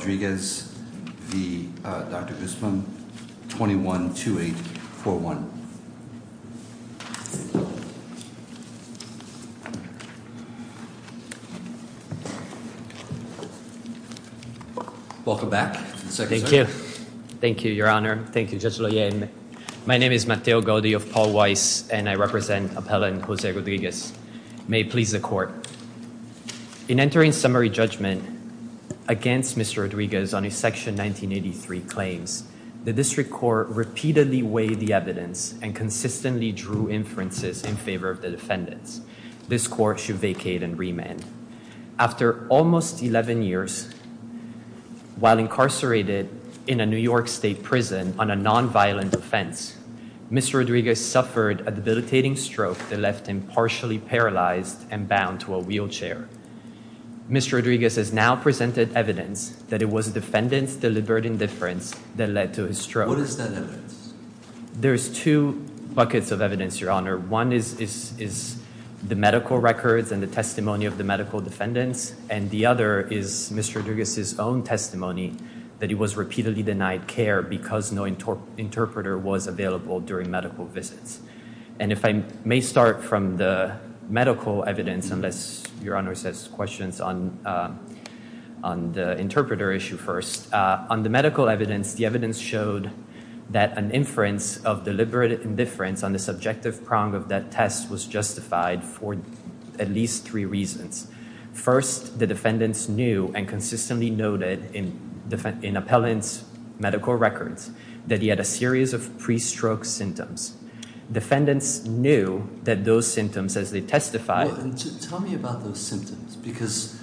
Rodriguez v. Dr. Guzman, 21-2841. Welcome back. Thank you. Thank you, Your Honor. Thank you, Judge Loyer. My name is Mateo Gaudi of Paul Weiss, and I represent Appellant Jose Rodriguez. May it please the Court. In entering summary judgment against Mr. Rodriguez on his Section 1983 claims, the District Court repeatedly weighed the evidence and consistently drew inferences in favor of the defendants. This Court should vacate and remand. After almost 11 years, while incarcerated in a New York State prison on a nonviolent offense, Mr. Rodriguez suffered a debilitating stroke that left him partially paralyzed and in a wheelchair. Mr. Rodriguez has now presented evidence that it was the defendant's deliberate indifference that led to his stroke. What is that evidence? There's two buckets of evidence, Your Honor. One is the medical records and the testimony of the medical defendants, and the other is Mr. Rodriguez's own testimony that he was repeatedly denied care because no interpreter was available during medical visits. And if I may start from the medical evidence, unless Your Honor has questions on the interpreter issue first. On the medical evidence, the evidence showed that an inference of deliberate indifference on the subjective prong of that test was justified for at least three reasons. First, the defendants knew and consistently noted in Appellant's medical records that he had a series of pre-stroke symptoms. Defendants knew that those symptoms, as they testified- Well, tell me about those symptoms because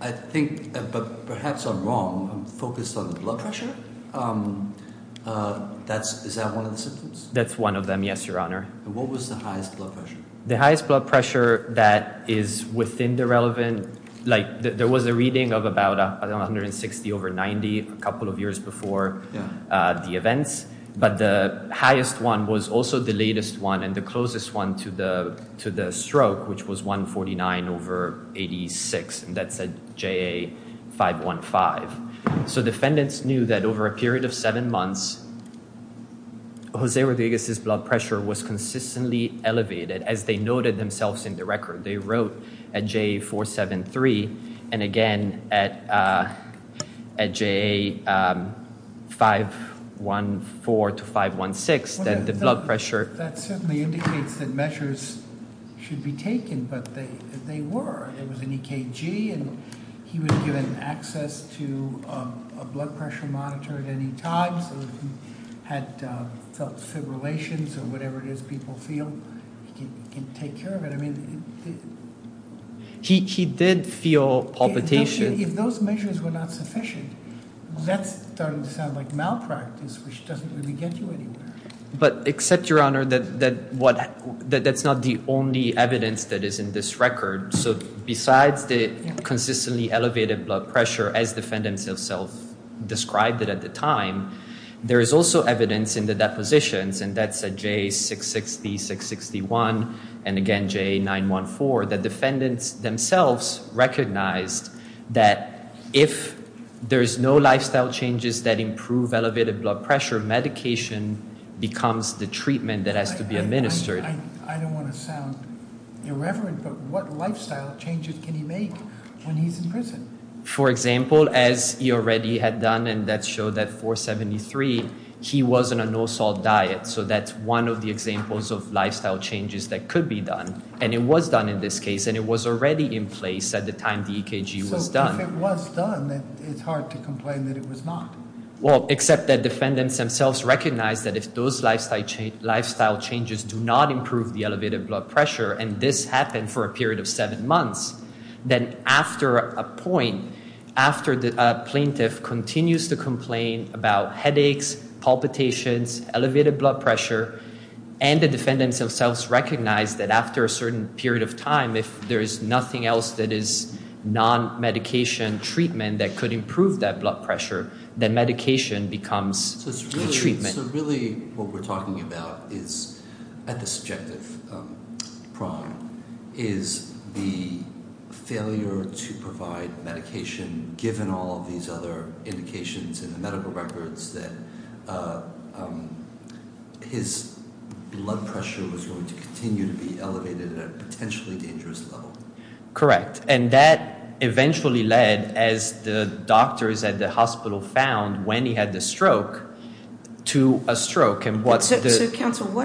I think, but perhaps I'm wrong, I'm focused on the blood pressure. Is that one of the symptoms? That's one of them, yes, Your Honor. And what was the highest blood pressure? The highest blood pressure that is within the relevant, like there was a reading of about 160 over 90 a couple of years before the events, but the highest one was also the latest one and the closest one to the stroke, which was 149 over 86, and that's a JA515. So defendants knew that over a period of seven months, Jose Rodriguez's blood pressure was consistently elevated, as they noted themselves in the record. They wrote at JA473 and again at JA514 to 516 that the blood pressure- That certainly indicates that measures should be taken, but they were. It was an EKG and he was given access to a blood pressure monitor at any time, so if he had felt fibrillations or whatever it is people feel, he can take care of it. I mean- He did feel palpitations. If those measures were not sufficient, that's starting to sound like malpractice, which doesn't really get you anywhere. But except, Your Honor, that that's not the only evidence that is in this record. So besides the consistently elevated blood pressure, as defendants themselves described it at the time, there is also evidence in the depositions and that's at JA660, 661, and again JA914 that defendants themselves recognized that if there's no lifestyle changes that improve elevated blood pressure, medication becomes the treatment that has to be administered. I don't want to sound irreverent, but what lifestyle changes can he make when he's in prison? For example, as he already had done and that showed at 473, he was on a no-salt diet. So that's one of the examples of lifestyle changes that could be done. And it was done in this case, and it was already in place at the time the EKG was done. So if it was done, then it's hard to complain that it was not. Well, except that defendants themselves recognized that if those lifestyle changes do not improve the elevated blood pressure, and this happened for a period of seven months, then after a certain period of time, if there is nothing else that is non-medication treatment that could improve that blood pressure, then medication becomes the treatment. So really what we're talking about is, at the subjective prime, is the failure to provide his blood pressure was going to continue to be elevated at a potentially dangerous level. Correct. And that eventually led, as the doctors at the hospital found when he had the stroke, to a stroke. So counsel,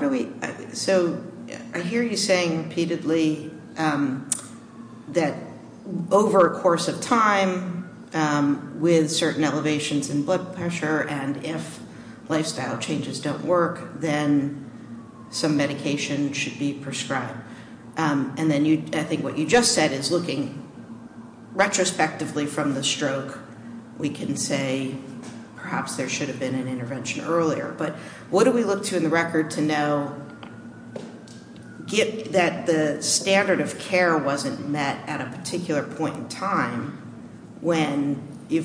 I hear you saying repeatedly that over a course of time, with certain elevations in blood pressure, and if lifestyle changes don't work, then some medication should be prescribed. And then I think what you just said is looking retrospectively from the stroke, we can say perhaps there should have been an intervention earlier. But what do we look to in the record to know that the standard of care wasn't met at a time when he had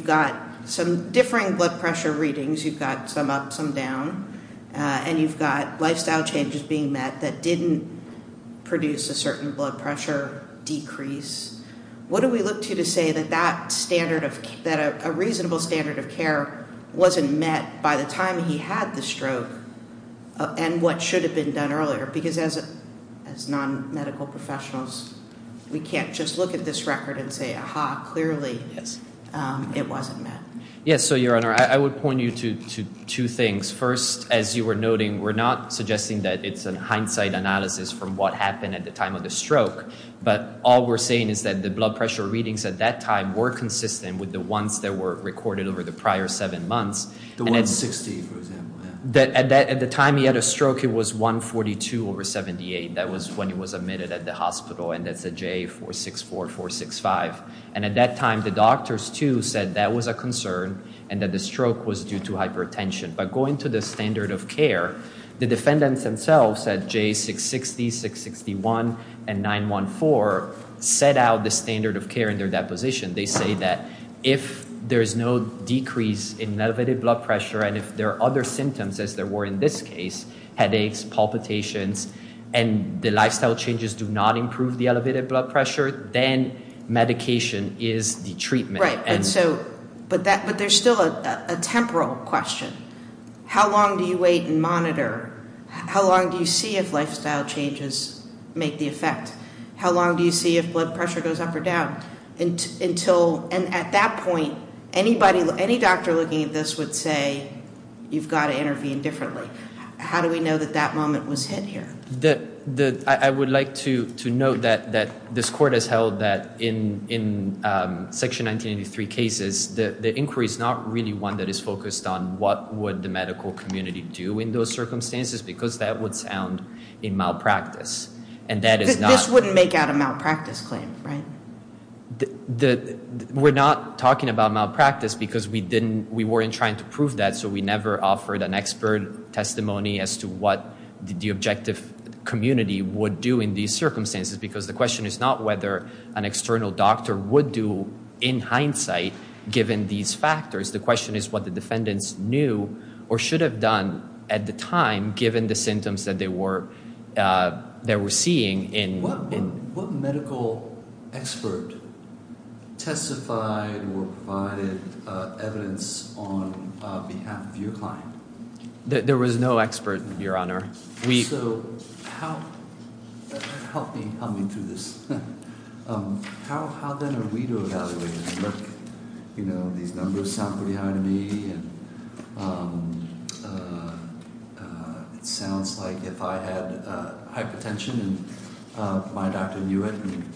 the stroke, and what should have been done earlier? Because as non-medical professionals, we can't just look at this record and say, aha, clearly it wasn't met. I think that's a good point. Your Honor, I would point you to two things. First, as you were noting, we're not suggesting that it's a hindsight analysis from what happened at the time of the stroke, but all we're saying is that the blood pressure readings at that time were consistent with the ones that were recorded over the prior seven months. The 160, for example. At the time he had a stroke, it was 142 over 78. That was when he was admitted at the hospital, and that's a J464, 465. And at that time, the doctors, too, said that was a concern, and that the stroke was due to hypertension. But going to the standard of care, the defendants themselves at J660, 661, and 914 set out the standard of care in their deposition. They say that if there's no decrease in elevated blood pressure, and if there are other symptoms as there were in this case, headaches, palpitations, and the lifestyle changes do not improve the elevated blood pressure, then medication is the treatment. But there's still a temporal question. How long do you wait and monitor? How long do you see if lifestyle changes make the effect? How long do you see if blood pressure goes up or down? And at that point, any doctor looking at this would say, you've got to intervene differently. How do we know that that moment was hit here? I would like to note that this court has held that in Section 1983 cases, the inquiry is not really one that is focused on what would the medical community do in those circumstances, because that would sound in malpractice. This wouldn't make out a malpractice claim, right? We're not talking about malpractice because we weren't trying to prove that, so we never offered an expert testimony as to what the objective community would do in these circumstances, because the question is not whether an external doctor would do, in hindsight, given these factors. The question is what the defendants knew or should have done at the time, given the symptoms that they were seeing. What medical expert testified or provided evidence on behalf of your client? There was no expert, Your Honor. Help me through this. How then are we to evaluate it? These numbers sound pretty high to me. It sounds like if I had hypertension and my doctor knew it and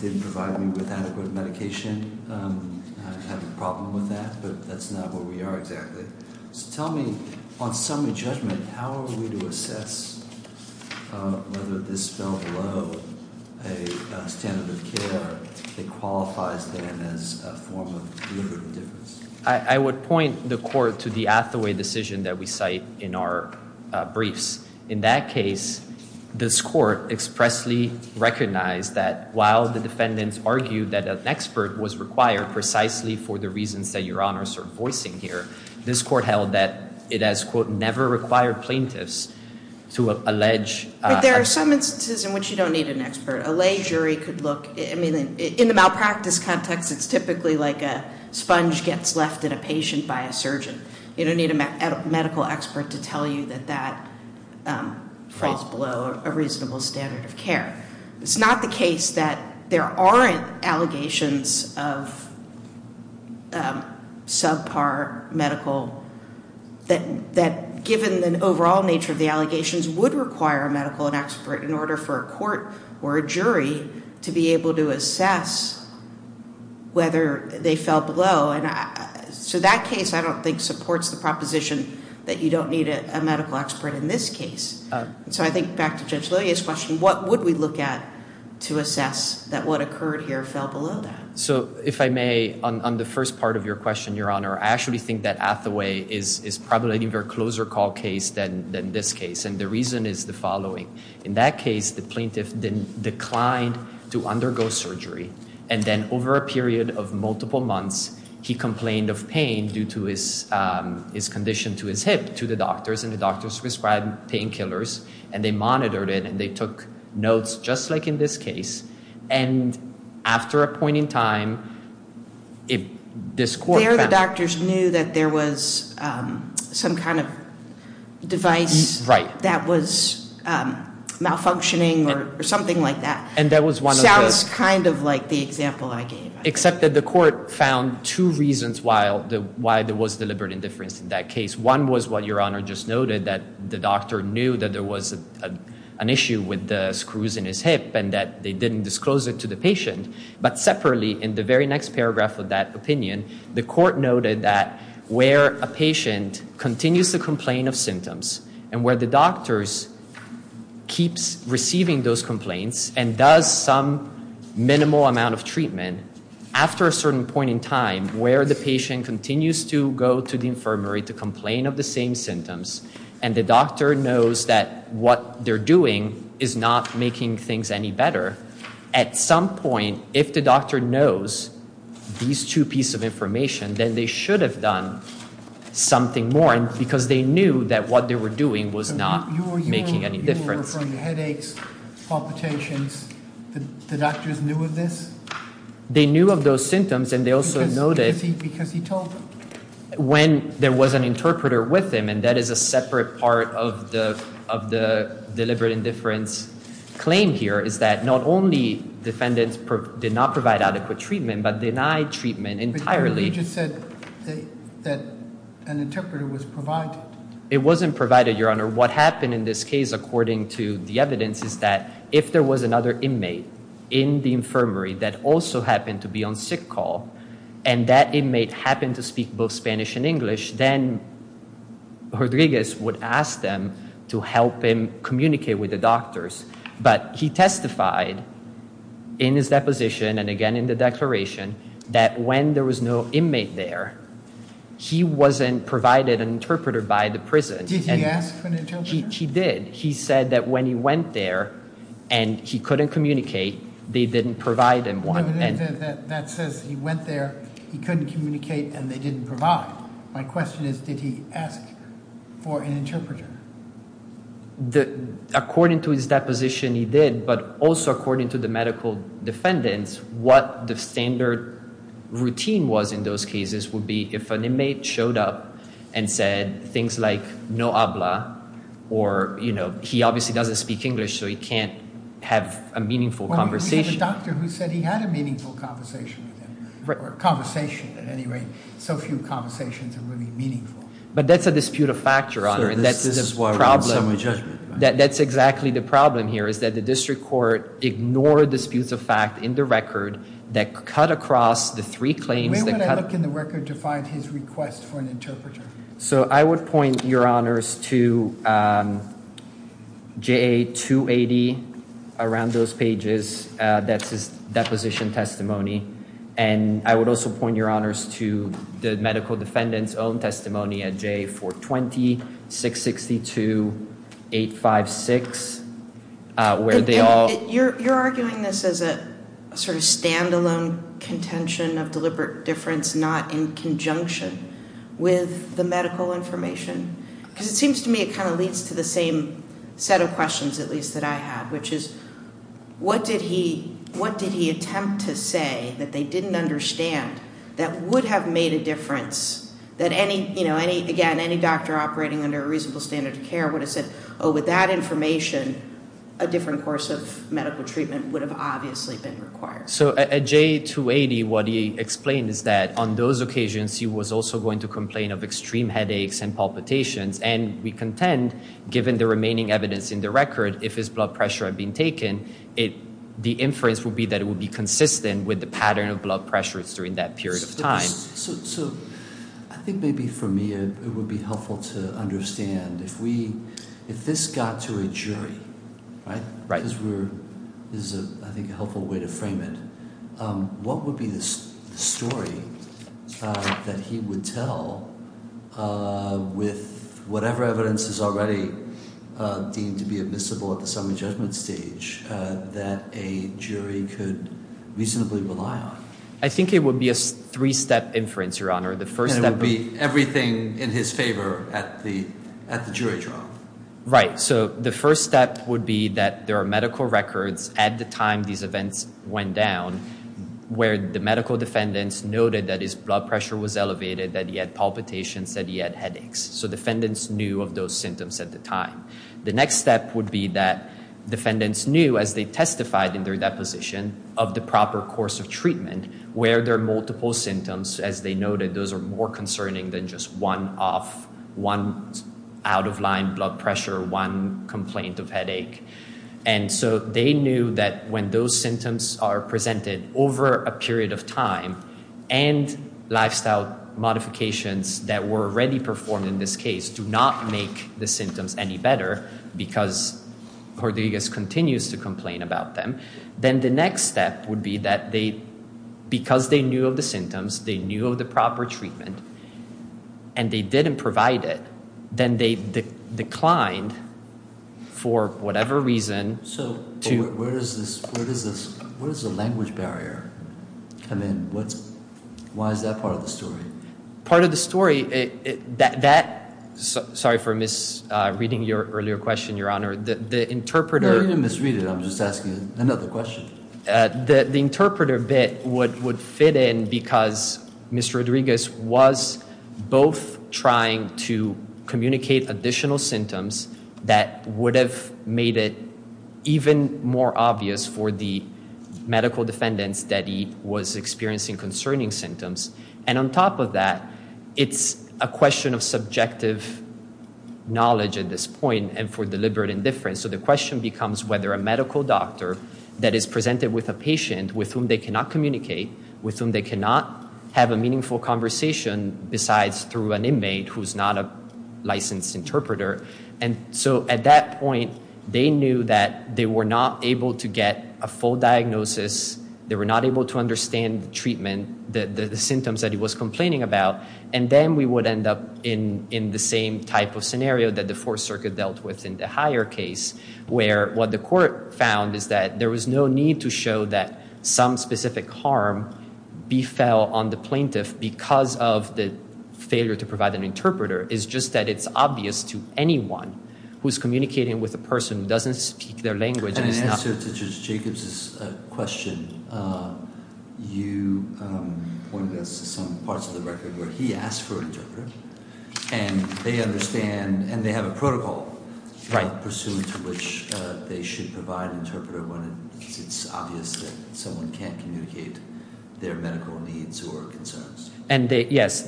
didn't provide me with adequate medication, I'd have a problem with that, but that's not where we are exactly. So tell me, on summary judgment, how are we to assess whether this fell below a standard of care that qualifies then as a form of deliberative indifference? I would point the Court to the Athaway decision that we cite in our briefs. In that case, this Court expressly recognized that while the defendants argued that an expert was required precisely for the reasons that Your Honor is voicing here, this Court held that it has, quote, never required plaintiffs to allege... But there are some instances in which you don't need an expert. A lay jury could look... In the malpractice context, it's typically like a sponge gets left at a patient by a surgeon. You don't need a medical expert to tell you that that falls below a reasonable standard of care. It's not the case that there aren't allegations of subpar medical... that given the overall nature of the allegations, to be able to assess whether they fell below. So that case, I don't think, supports the proposition that you don't need a medical expert in this case. So I think, back to Judge Lillia's question, what would we look at to assess that what occurred here fell below that? So, if I may, on the first part of your question, Your Honor, I actually think that Athaway is probably a very closer call case than this case, and the reason is the following. In that case, the plaintiff declined to undergo surgery, and then over a period of multiple months, he complained of pain due to his condition to his hip to the doctors, and the doctors prescribed painkillers, and they monitored it, and they took notes, just like in this case, and after a point in time, this court found... There, the doctors knew that there was some kind of device that was malfunctioning or something like that. And that was one of the... Sounds kind of like the example I gave. Except that the court found two reasons why there was deliberate indifference in that case. One was what Your Honor just noted, that the doctor knew that there was an issue with the screws in his hip, and that they didn't disclose it to the patient, but separately, in the very next paragraph of that opinion, the court noted that where a patient continues to complain of symptoms, and where the doctors keep receiving those complaints and does some minimal amount of treatment, after a certain point in time, where the patient continues to go to the infirmary to complain of the same symptoms, and the doctor knows that what they're doing is not making things any better, at some point, if the doctor knows these two pieces of information, then they should have done something more, because they knew that what they were doing was not making any difference. Your Honor, you were referring to headaches, palpitations, the doctors knew of this? They knew of those symptoms, and they also noted... Because he told them? When there was an interpreter with him, and that is a separate part of the deliberate indifference claim here, is that not only defendants did not provide adequate treatment, but denied treatment entirely. But you just said that an interpreter was provided. It wasn't provided, Your Honor. What happened in this case, according to the evidence, is that if there was another inmate in the infirmary that also happened to be on sick call, and that inmate happened to speak both Spanish and English, then Rodriguez would ask them to help him communicate with the doctors. But he testified in his deposition, and again in the declaration, that when there was no inmate there, he wasn't provided an interpreter by the prison. Did he ask for an interpreter? He did. He said that when he went there, and he couldn't communicate, they didn't provide him one. That says he went there, he couldn't communicate, and they didn't provide. My question is, did he ask for an interpreter? According to his deposition, he did, but also according to the medical defendants, what the standard routine was in those cases would be if an inmate showed up and said things like, no habla, or he obviously doesn't speak English, so he can't have a meaningful conversation. We have a doctor who said he had a meaningful conversation with him. Or conversation, at any rate. So few conversations are really meaningful. But that's a dispute of factor, Your Honor. This is why we're on summary judgment. That's exactly the problem here, is that the district court ignored the disputes of fact in the record that cut across the three claims. Where would I look in the record to find his request for an interpreter? So I would point, Your Honors, to JA-280, around those pages. That's his deposition testimony. And I would also point, Your Honors, to the medical defendants' own testimony at JA-420-662-856. Where they all... You're arguing this as a sort of stand-alone contention of deliberate difference, not in conjunction with the medical information? Because it seems to me it kind of leads to the same set of questions, at least, that I had. Which is, what did he attempt to say that they didn't understand that would have made a difference that any doctor operating under a reasonable standard of care would have said, oh, with that information, a different course of medical treatment would have obviously been required. So at JA-280, what he explained is that on those occasions, he was also going to complain of extreme headaches and palpitations. And we contend, given the remaining evidence in the record, if his blood pressure had been taken, the inference would be that it would be consistent with the pattern of blood pressures during that period of time. So I think maybe for me it would be helpful to understand if this got to a jury, because this is, I think, a helpful way to frame it, what would be the story that he would tell with whatever evidence is already deemed to be admissible at the summary judgment stage that a jury could reasonably rely on? I think it would be a three-step inference, Your Honor. And it would be everything in his favor at the jury trial. Right. So the first step would be that there are medical records at the time these events went down where the medical defendants noted that his blood pressure was elevated, that he had palpitations, that he had headaches. So defendants knew of those symptoms at the time. The next step would be that defendants knew, as they testified in their deposition, of the proper course of treatment where there are multiple symptoms. As they noted, those are more concerning than just one out-of-line blood pressure or one complaint of headache. And so they knew that when those symptoms are presented over a period of time and lifestyle modifications that were already performed in this case do not make the symptoms any better because Cordegas continues to complain about them, then the next step would be that because they knew of the symptoms, they knew of the proper treatment, and they didn't provide it, then they declined for whatever reason to... So where does the language barrier come in? Why is that part of the story? Part of the story... Sorry for misreading your earlier question, Your Honor. The interpreter... No, you didn't misread it. I'm just asking another question. The interpreter bit would fit in because Mr. Rodriguez was both trying to communicate additional symptoms that would have made it even more obvious for the medical defendants that he was experiencing concerning symptoms. And on top of that, it's a question of subjective knowledge at this point and for deliberate indifference. So the question becomes whether a medical doctor that is presented with a patient with whom they cannot communicate, with whom they cannot have a meaningful conversation besides through an inmate who's not a licensed interpreter. So at that point, they knew that they were not able to get a full diagnosis, they were not able to understand the treatment, the symptoms that he was complaining about, and then we would end up in the same type of scenario that the Fourth Circuit dealt with in the higher case where what the court found is that there was no need to show that some specific harm befell on the plaintiff because of the failure to provide an interpreter. It's just that it's obvious to anyone who's communicating with a person who doesn't speak their language. In answer to Judge Jacobs' question, you pointed us to some parts of the record where he asked for an interpreter and they understand and they have a protocol pursuant to which they should provide an interpreter when it's obvious that someone can't communicate their medical needs or concerns. Yes,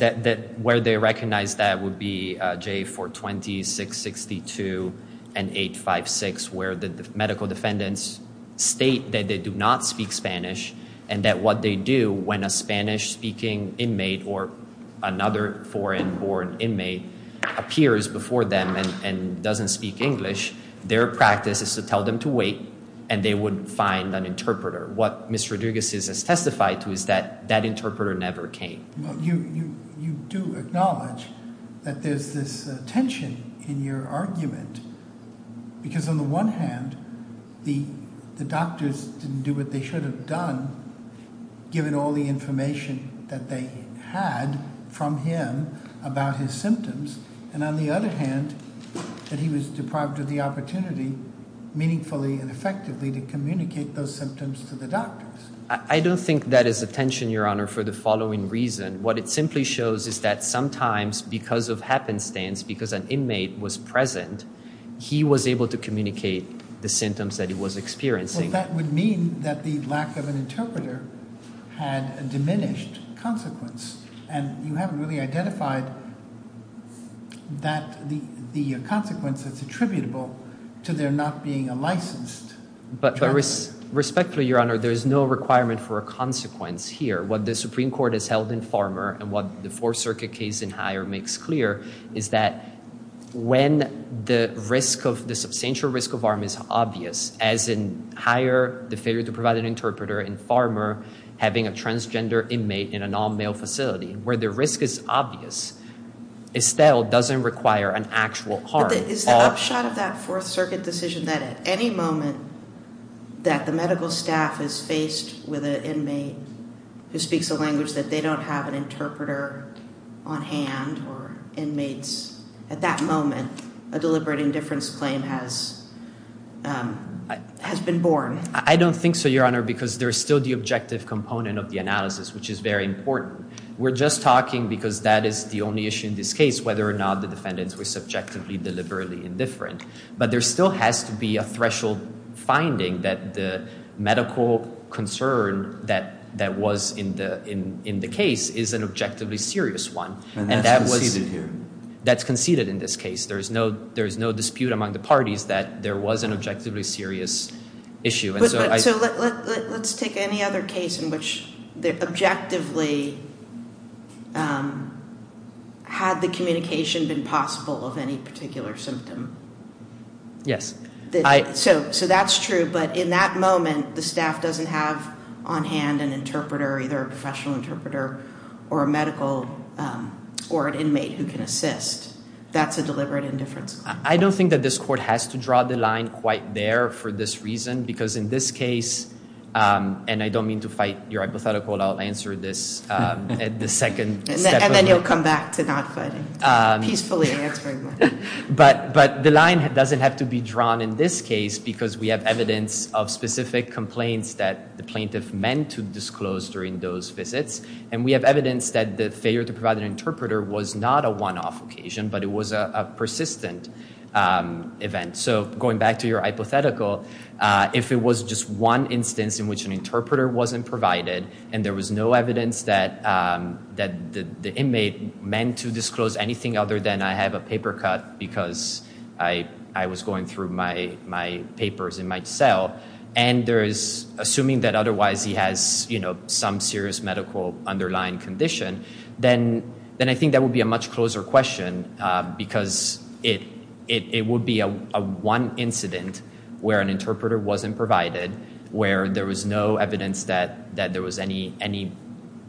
where they recognize that would be J420, 662, and 856 where the medical defendants state that they do not speak Spanish and that what they do when a Spanish speaking inmate or another foreign-born inmate appears before them and doesn't speak English, their practice is to tell them to wait and they would find an interpreter. What Mr. Rodriguez has testified to is that that interpreter never came. You do acknowledge that there's this tension in your argument because on the one hand the doctors didn't do what they should have done given all the information that they had from him about his symptoms and on the other hand that he was deprived of the opportunity meaningfully and effectively to communicate those symptoms to the doctors. I don't think that is a tension your honor for the following reason what it simply shows is that sometimes because of happenstance because an inmate was present he was able to communicate the symptoms that he was experiencing. That would mean that the lack of an interpreter had a diminished consequence and you haven't really identified that the consequence that's attributable to their not being a licensed Respectfully your honor there is no requirement for a consequence here. What the Supreme Court has held in Farmer and what the Fourth Circuit case in Hire makes clear is that when the risk of the substantial risk of harm is obvious as in Hire the failure to provide an interpreter in Farmer having a transgender inmate in an all male facility where the risk is obvious Estelle doesn't require an actual harm. Is the upshot of that Fourth Circuit decision that at any moment that the medical staff is faced with an inmate who speaks a language that they don't have an interpreter on hand or inmates at that moment a deliberating difference claim has been born? I don't think so your honor because there is still the objective component of the analysis which is very important. We're just talking because that is the only issue in this case whether or not the defendants were subjectively deliberately indifferent but there still has to be a threshold finding that the medical concern that was in the case is an objectively serious one and that's conceded in this case. There is no dispute among the parties that there was an objectively serious issue Let's take any other case in which objectively had the communication been possible of any particular symptom Yes. So that's true but in that moment the staff doesn't have on hand an interpreter either a professional interpreter or a medical or an inmate who can assist that's a deliberate indifference claim. I don't think that this court has to draw the line quite there for this reason because in this case and I don't mean to fight your hypothetical I'll answer this at the second And then you'll come back to not fighting peacefully answering But the line doesn't have to be drawn in this case because we have evidence of specific complaints that the plaintiff meant to disclose during those visits and we have evidence that the failure to provide an interpreter was not a one off occasion but it was a persistent event. So going back to your hypothetical if it was just one instance in which an interpreter wasn't provided and there was no evidence that the inmate meant to disclose anything other than I have a paper cut because I was going through my papers in my cell and there is assuming that otherwise he has some serious medical underlying condition then I think that would be a much closer question because it would be a one incident where an interpreter wasn't provided where there was no evidence that there was any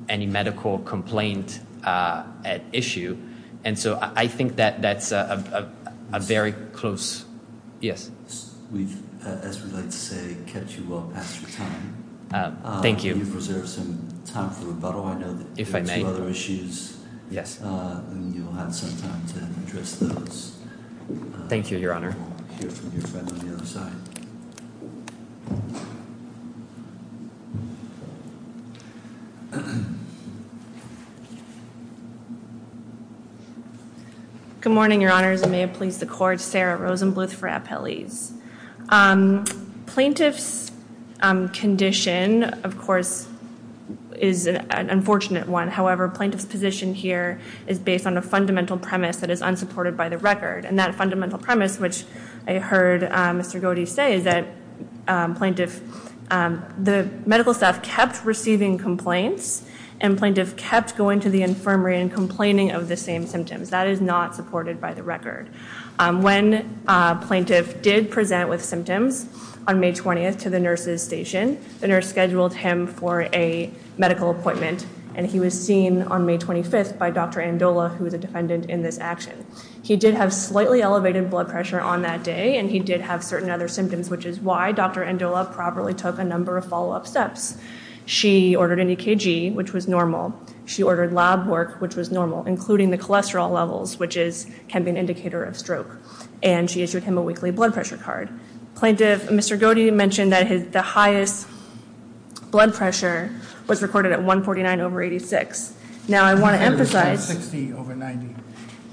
medical complaint at issue and so I think that that's a very close Yes? As we like to say, kept you well past your time Thank you You've reserved some time for rebuttal If I may Yes You'll have some time to address those Thank you, your honor Good morning, your honors and may it please the court, Sarah Rosenbluth for Appellees Plaintiff's condition, of course is an unfortunate one and the reason for that, your honor is based on a fundamental premise that is unsupported by the record and that fundamental premise which I heard Mr. Godey say is that the medical staff kept receiving complaints and plaintiff kept going to the infirmary and complaining of the same symptoms that is not supported by the record When plaintiff did present with symptoms on May 20th to the nurse's station the nurse scheduled him for a medical appointment and he was seen on May 25th by Dr. Andola who is a defendant in this action He did have slightly elevated blood pressure on that day and he did have certain other symptoms which is why Dr. Andola properly took a number of follow-up steps She ordered an EKG, which was normal. She ordered lab work which was normal, including the cholesterol levels which can be an indicator of stroke and she issued him a weekly blood pressure card. Plaintiff, Mr. Godey's highest blood pressure was recorded at 149 over 86. Now I want to emphasize...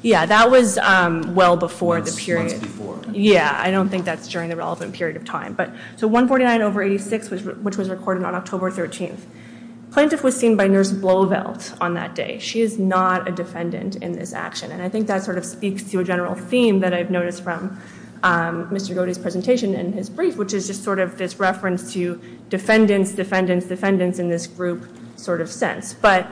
Yeah, that was well before the period... I don't think that's during the relevant period of time So 149 over 86, which was recorded on October 13th Plaintiff was seen by Nurse Blovelt on that day. She is not a defendant in this action and I think that sort of speaks to a general theme that I've noticed from Mr. Godey's presentation and his brief, which is just sort of this reference to defendants, defendants, defendants in this group sort of sense but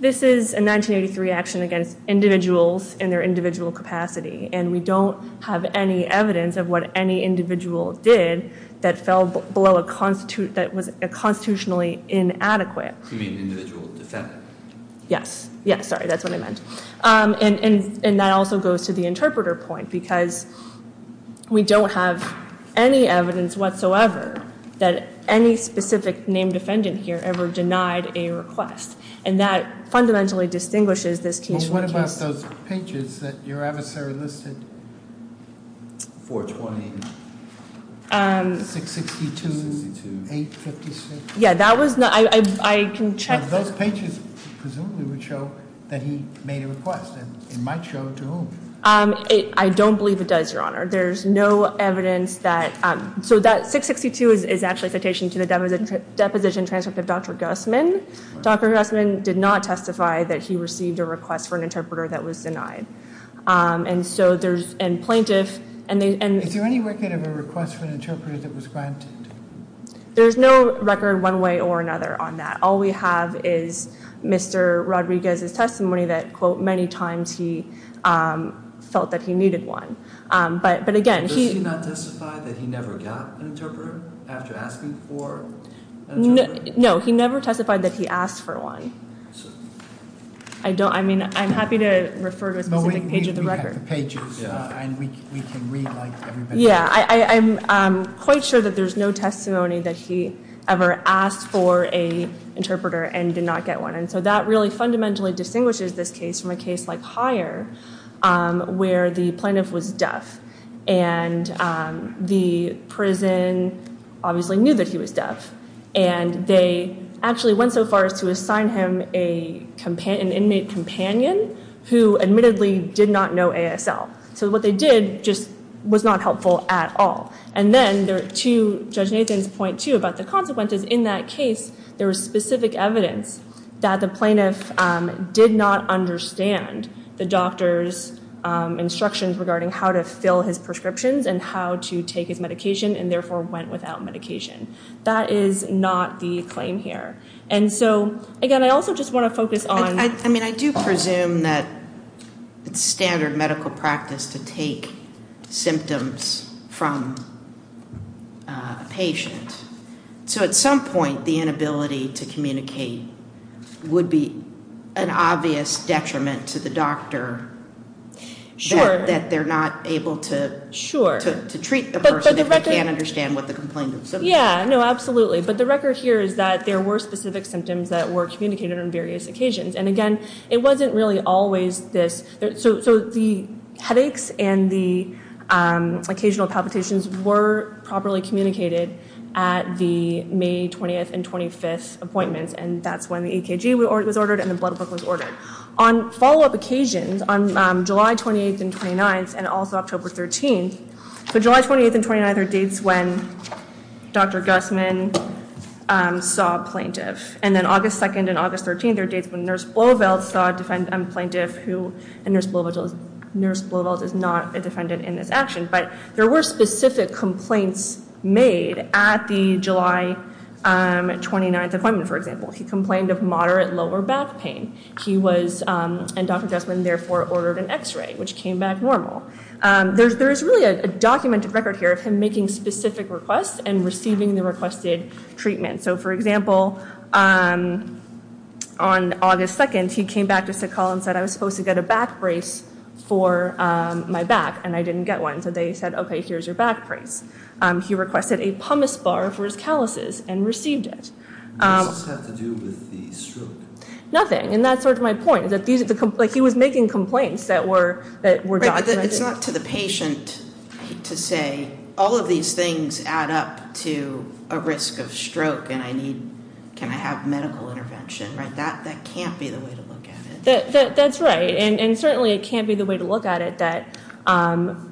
this is a 1983 action against individuals in their individual capacity and we don't have any evidence of what any individual did that fell below a constitutional that was constitutionally inadequate You mean individual defendant Yes, sorry, that's what I meant and that also goes to the interpreter point because we don't have any evidence whatsoever that any specific named defendant here ever denied a request and that fundamentally distinguishes this case What about those pages that your adversary listed? 420 662 856 Yeah, that was not I can check... Those pages presumably would show that he made a request and it might show to whom I don't believe it does, Your Honor There's no evidence that so that 662 is actually a citation to the deposition transcript of Dr. Guzman Dr. Guzman did not testify that he received a request for an interpreter that was denied and so there's and plaintiff Is there any record of a request for an interpreter that was granted? There's no record one way or another on that All we have is Mr. Rodriguez's testimony that quote many times he felt that he needed one Does he not testify that he never got an interpreter after asking for an interpreter? No, he never testified that he asked for one I'm happy to refer to a specific page of the record I'm quite sure that there's no testimony that he ever asked for an interpreter and did not get one and so that really fundamentally distinguishes this case from a case like Hire where the plaintiff was deaf and the prison obviously knew that he was deaf and they actually went so far as to assign him an inmate companion who admittedly did not know ASL so what they did just was not helpful at all and then there are two Judge Nathan's point too about the consequences in that case there was specific evidence that the plaintiff did not understand the doctor's instructions regarding how to fill his prescriptions and how to take his medication and therefore went without medication that is not the claim here and so again I also just want to focus on I do presume that standard medical practice to take symptoms from a patient so at some point the inability to communicate would be an obvious detriment to the doctor that they're not able to treat the person if they can't understand what the complainant said absolutely but the record here is that there were specific symptoms that were communicated on various occasions and again it wasn't really always this so the headaches and the occasional palpitations were properly communicated at the May 20th and 25th appointments and that's when the EKG was ordered and the blood book was ordered. On follow up occasions on July 28th and 29th and also October 13th the July 28th and 29th are dates when Dr. Guzman saw a plaintiff and then August 2nd and August 13th are dates when Nurse Bloveld saw a plaintiff who Nurse Bloveld is not a defendant in this action but there were specific complaints made at the July 29th appointment for example. He complained of moderate lower back pain. He was, and Dr. Guzman therefore ordered an x-ray which came back normal. There is really a documented record here of him making specific requests and receiving the requested treatment. So for example on August 2nd he came back to us and said I was supposed to get a back brace for my back and I didn't get one so they said okay here's your back brace. He requested a pumice bar for his calluses and received it. What does this have to do with the stroke? Nothing and that's sort of my point. He was making complaints that were documented. It's not to the patient to say all of these things add up to a risk of stroke and I need, can I have medical intervention. That can't be the way to look at it. That's right and certainly it can't be the way to look at it. The other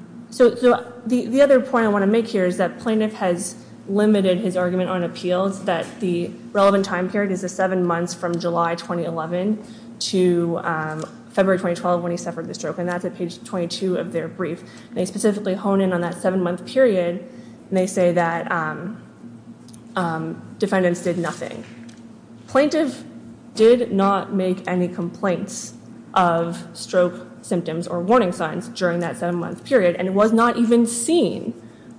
point I want to make here is that plaintiff has limited his argument on appeals that the relevant time period is the seven months from July 2011 to February 2012 when he suffered the stroke and that's at page 22 of their brief. They specifically hone in on that seven month period and they say that defendants did nothing. Plaintiff did not make any complaints of stroke symptoms or warning signs during that seven month period and was not even seen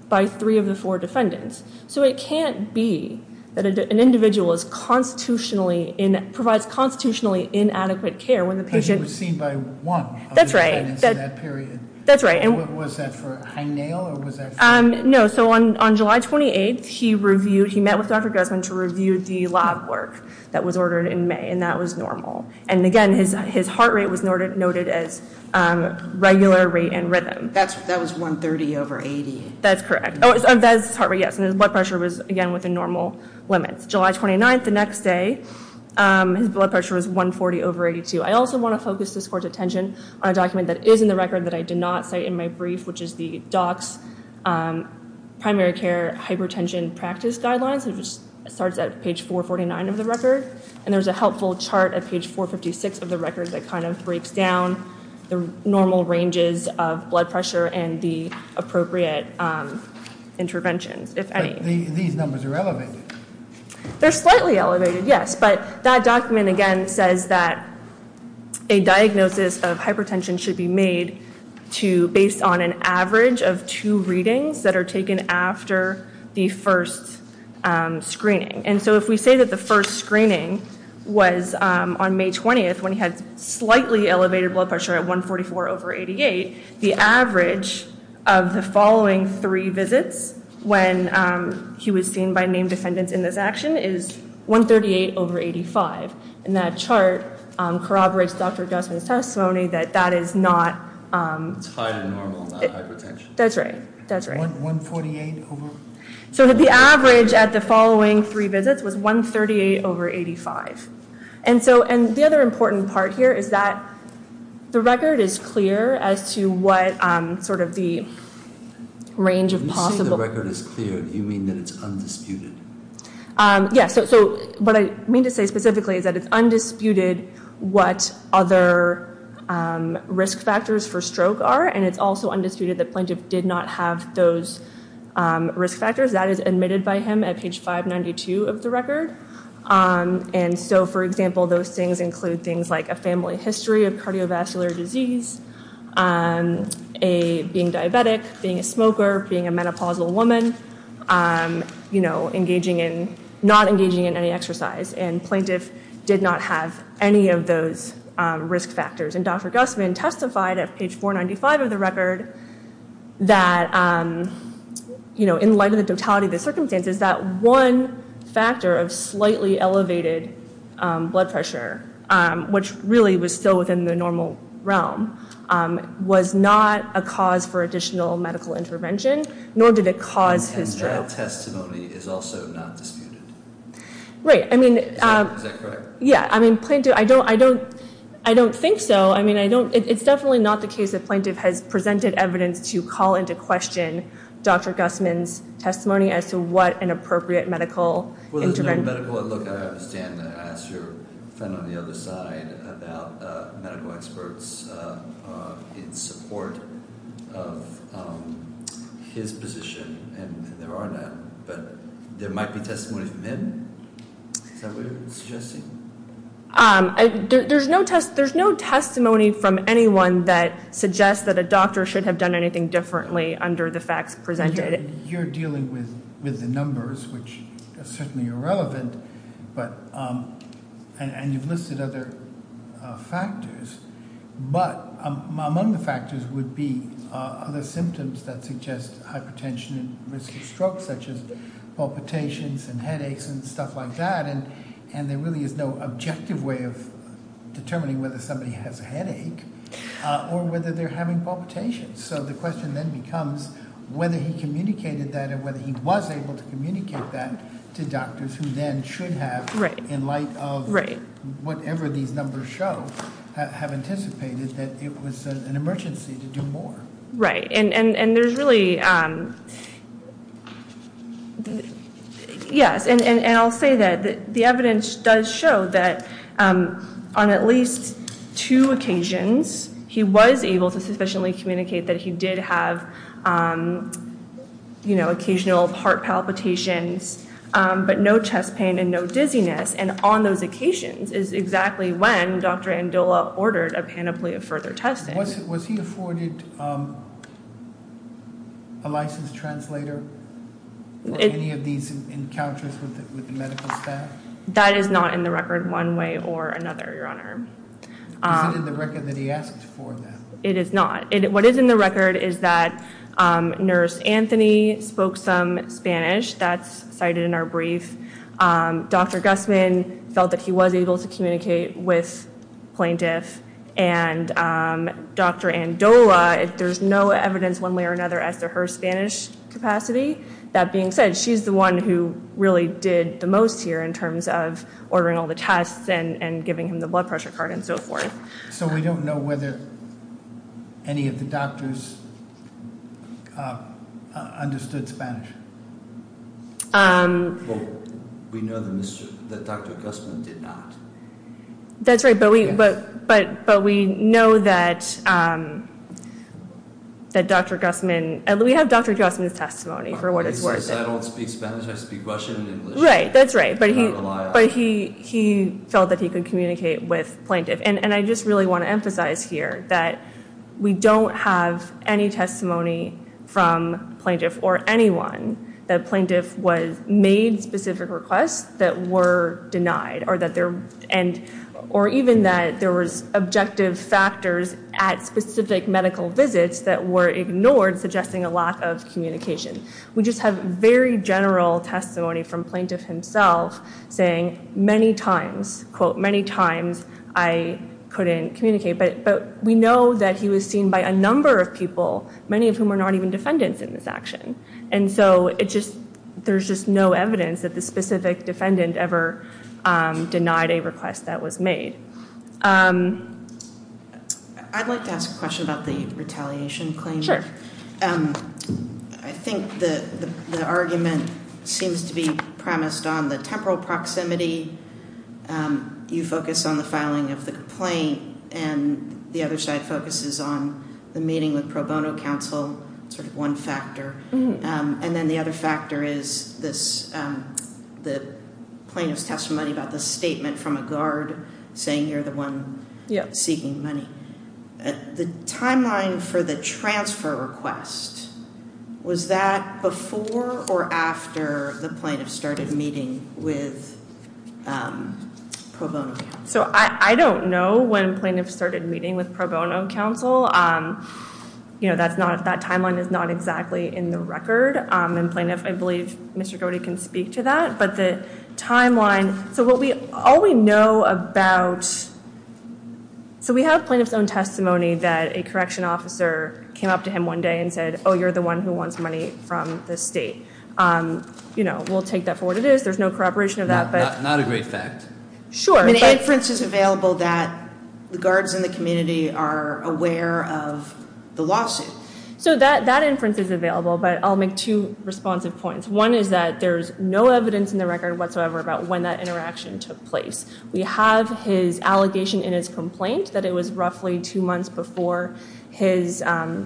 by three of the four defendants. So it can't be that an individual is constitutionally in, provides constitutionally inadequate care when the patient... But he was seen by one of the defendants in that period. That's right. Was that for high nail or was that for... No, so on July 28th he reviewed, he met with Dr. Guzman to review the lab work that was ordered in May and that was normal. And again, his heart rate was noted as regular rate and rhythm. That was 130 over 80. That's correct. Oh, his heart rate, yes, and his blood pressure was, again, within normal limits. July 29th, the next day, his blood pressure was 140 over 82. I also want to focus this court's attention on a document that is in the record that I did not cite in my brief, which is the docs primary care hypertension practice guidelines which starts at page 449 of the record. And there's a helpful chart at page 456 of the record that kind of breaks down the normal ranges of blood pressure and the appropriate interventions, if any. These numbers are elevated. They're slightly elevated, yes, but that document, again, says that a diagnosis of hypertension should be made based on an average of two readings that are taken after the first screening. And so if we say that the first screening was on May 20th when he had slightly elevated blood pressure at 144 over 88, the average of the following three visits when he was seen by named defendants in this action is 138 over 85. And that chart corroborates Dr. Gusman's testimony that that is not... It's higher than normal, not hypertension. That's right. That's right. 148 over... So the average at the following three visits was 138 over 85. And so... And the other important part here is that the record is clear as to what sort of the range of possible... When you say the record is clear, do you mean that it's undisputed? Yes. So what I mean to say specifically is that it's undisputed what other risk factors for stroke are, and it's also undisputed that plaintiff did not have those risk factors. That is admitted by him at page 592 of the record. And so, for example, those things include things like a family history of cardiovascular disease, being diabetic, being a smoker, being a menopausal woman, not engaging in any exercise. And plaintiff did not have any of those risk factors. And Dr. Gusman testified at page 495 of the record that, you know, in light of the totality of the circumstances, that one factor of slightly elevated blood pressure, which really was still within the normal realm, was not a cause for additional medical intervention, nor did it cause his stroke. And that testimony is also not disputed? Right. I mean... Is that correct? Yeah. I mean, plaintiff... I don't think so. I mean, it's definitely not the case that plaintiff has presented evidence to call into question Dr. Gusman's testimony as to what an appropriate medical intervention... Well, there's no medical... Look, I understand that I asked your friend on the other side about medical experts in support of his position, and there are none. But there might be testimony from him? Is that what you're suggesting? There's no test... From anyone that suggests that a doctor should have done anything differently under the facts presented? You're dealing with the numbers, which are certainly irrelevant, but... And you've listed other factors, but among the factors would be other symptoms that suggest hypertension and risk of stroke, such as palpitations and headaches and stuff like that, and there really is no objective way of determining whether they're having palpitations. So the question then becomes whether he communicated that and whether he was able to communicate that to doctors who then should have, in light of whatever these numbers show, have anticipated that it was an emergency to do more. Right, and there's really... Yes, and I'll say that the evidence does show that on at least two occasions, he was able to sufficiently communicate that he did have occasional heart palpitations, but no chest pain and no dizziness, and on those occasions is exactly when Dr. Andola ordered a panoply of further testing. Was he afforded a licensed translator for any of these encounters with the medical staff? That is not in the record one way or another, Your Honor. Is it in the record that he asked for that? It is not. What is in the record is that Nurse Anthony spoke some Spanish. That's cited in our brief. Dr. Guzman felt that he was able to communicate with plaintiffs, and Dr. Andola, there's no evidence one way or another as to her Spanish capacity. That being said, she's the one who really did the most here in terms of ordering all the tests and giving him the blood pressure card and so forth. So we don't know whether any of the doctors understood Spanish? We know that Dr. Guzman did not. That's right, but we know that Dr. Guzman, we have Dr. Guzman's testimony for what Right, that's right. But he felt that he could communicate with plaintiffs, and I just really want to emphasize here that we don't have any testimony from plaintiffs or anyone that plaintiffs made specific requests that were denied, or even that there was objective factors at specific medical visits that were ignored, suggesting a lack of communication. We just have very general testimony from plaintiff himself saying many times, quote, many times I couldn't communicate, but we know that he was seen by a number of people, many of whom are not even defendants in this action. And so it just, there's just no evidence that the specific defendant ever I'd like to ask a question about the retaliation claim. Sure. I think the argument seems to be premised on the temporal proximity, you focus on the filing of the complaint, and the other side focuses on the meeting with pro bono counsel, sort of one factor, and then the other factor is this, the plaintiff's testimony about the statement from a guard saying you're the one seeking money. The timeline for the transfer request, was that before or after the plaintiff started meeting with pro bono counsel? So I don't know when plaintiff started meeting with pro bono counsel. You know, that's not, that timeline is not exactly in the record, and plaintiff, I believe, Mr. Cody can speak to that, but the timeline, so what we, all we know about, so we have plaintiff's own testimony that a correction officer came up to him one day and said, oh, you're the one who wants money from the state. You know, we'll take that for what it is, there's no corroboration of that, but... Not a great fact. Sure, but... An inference is available that the guards in the community are aware of the lawsuit. So that inference is available, but I'll make two responsive points. One is that there's no evidence in the record whatsoever about when that interaction took place. We have his allegation in his two months before his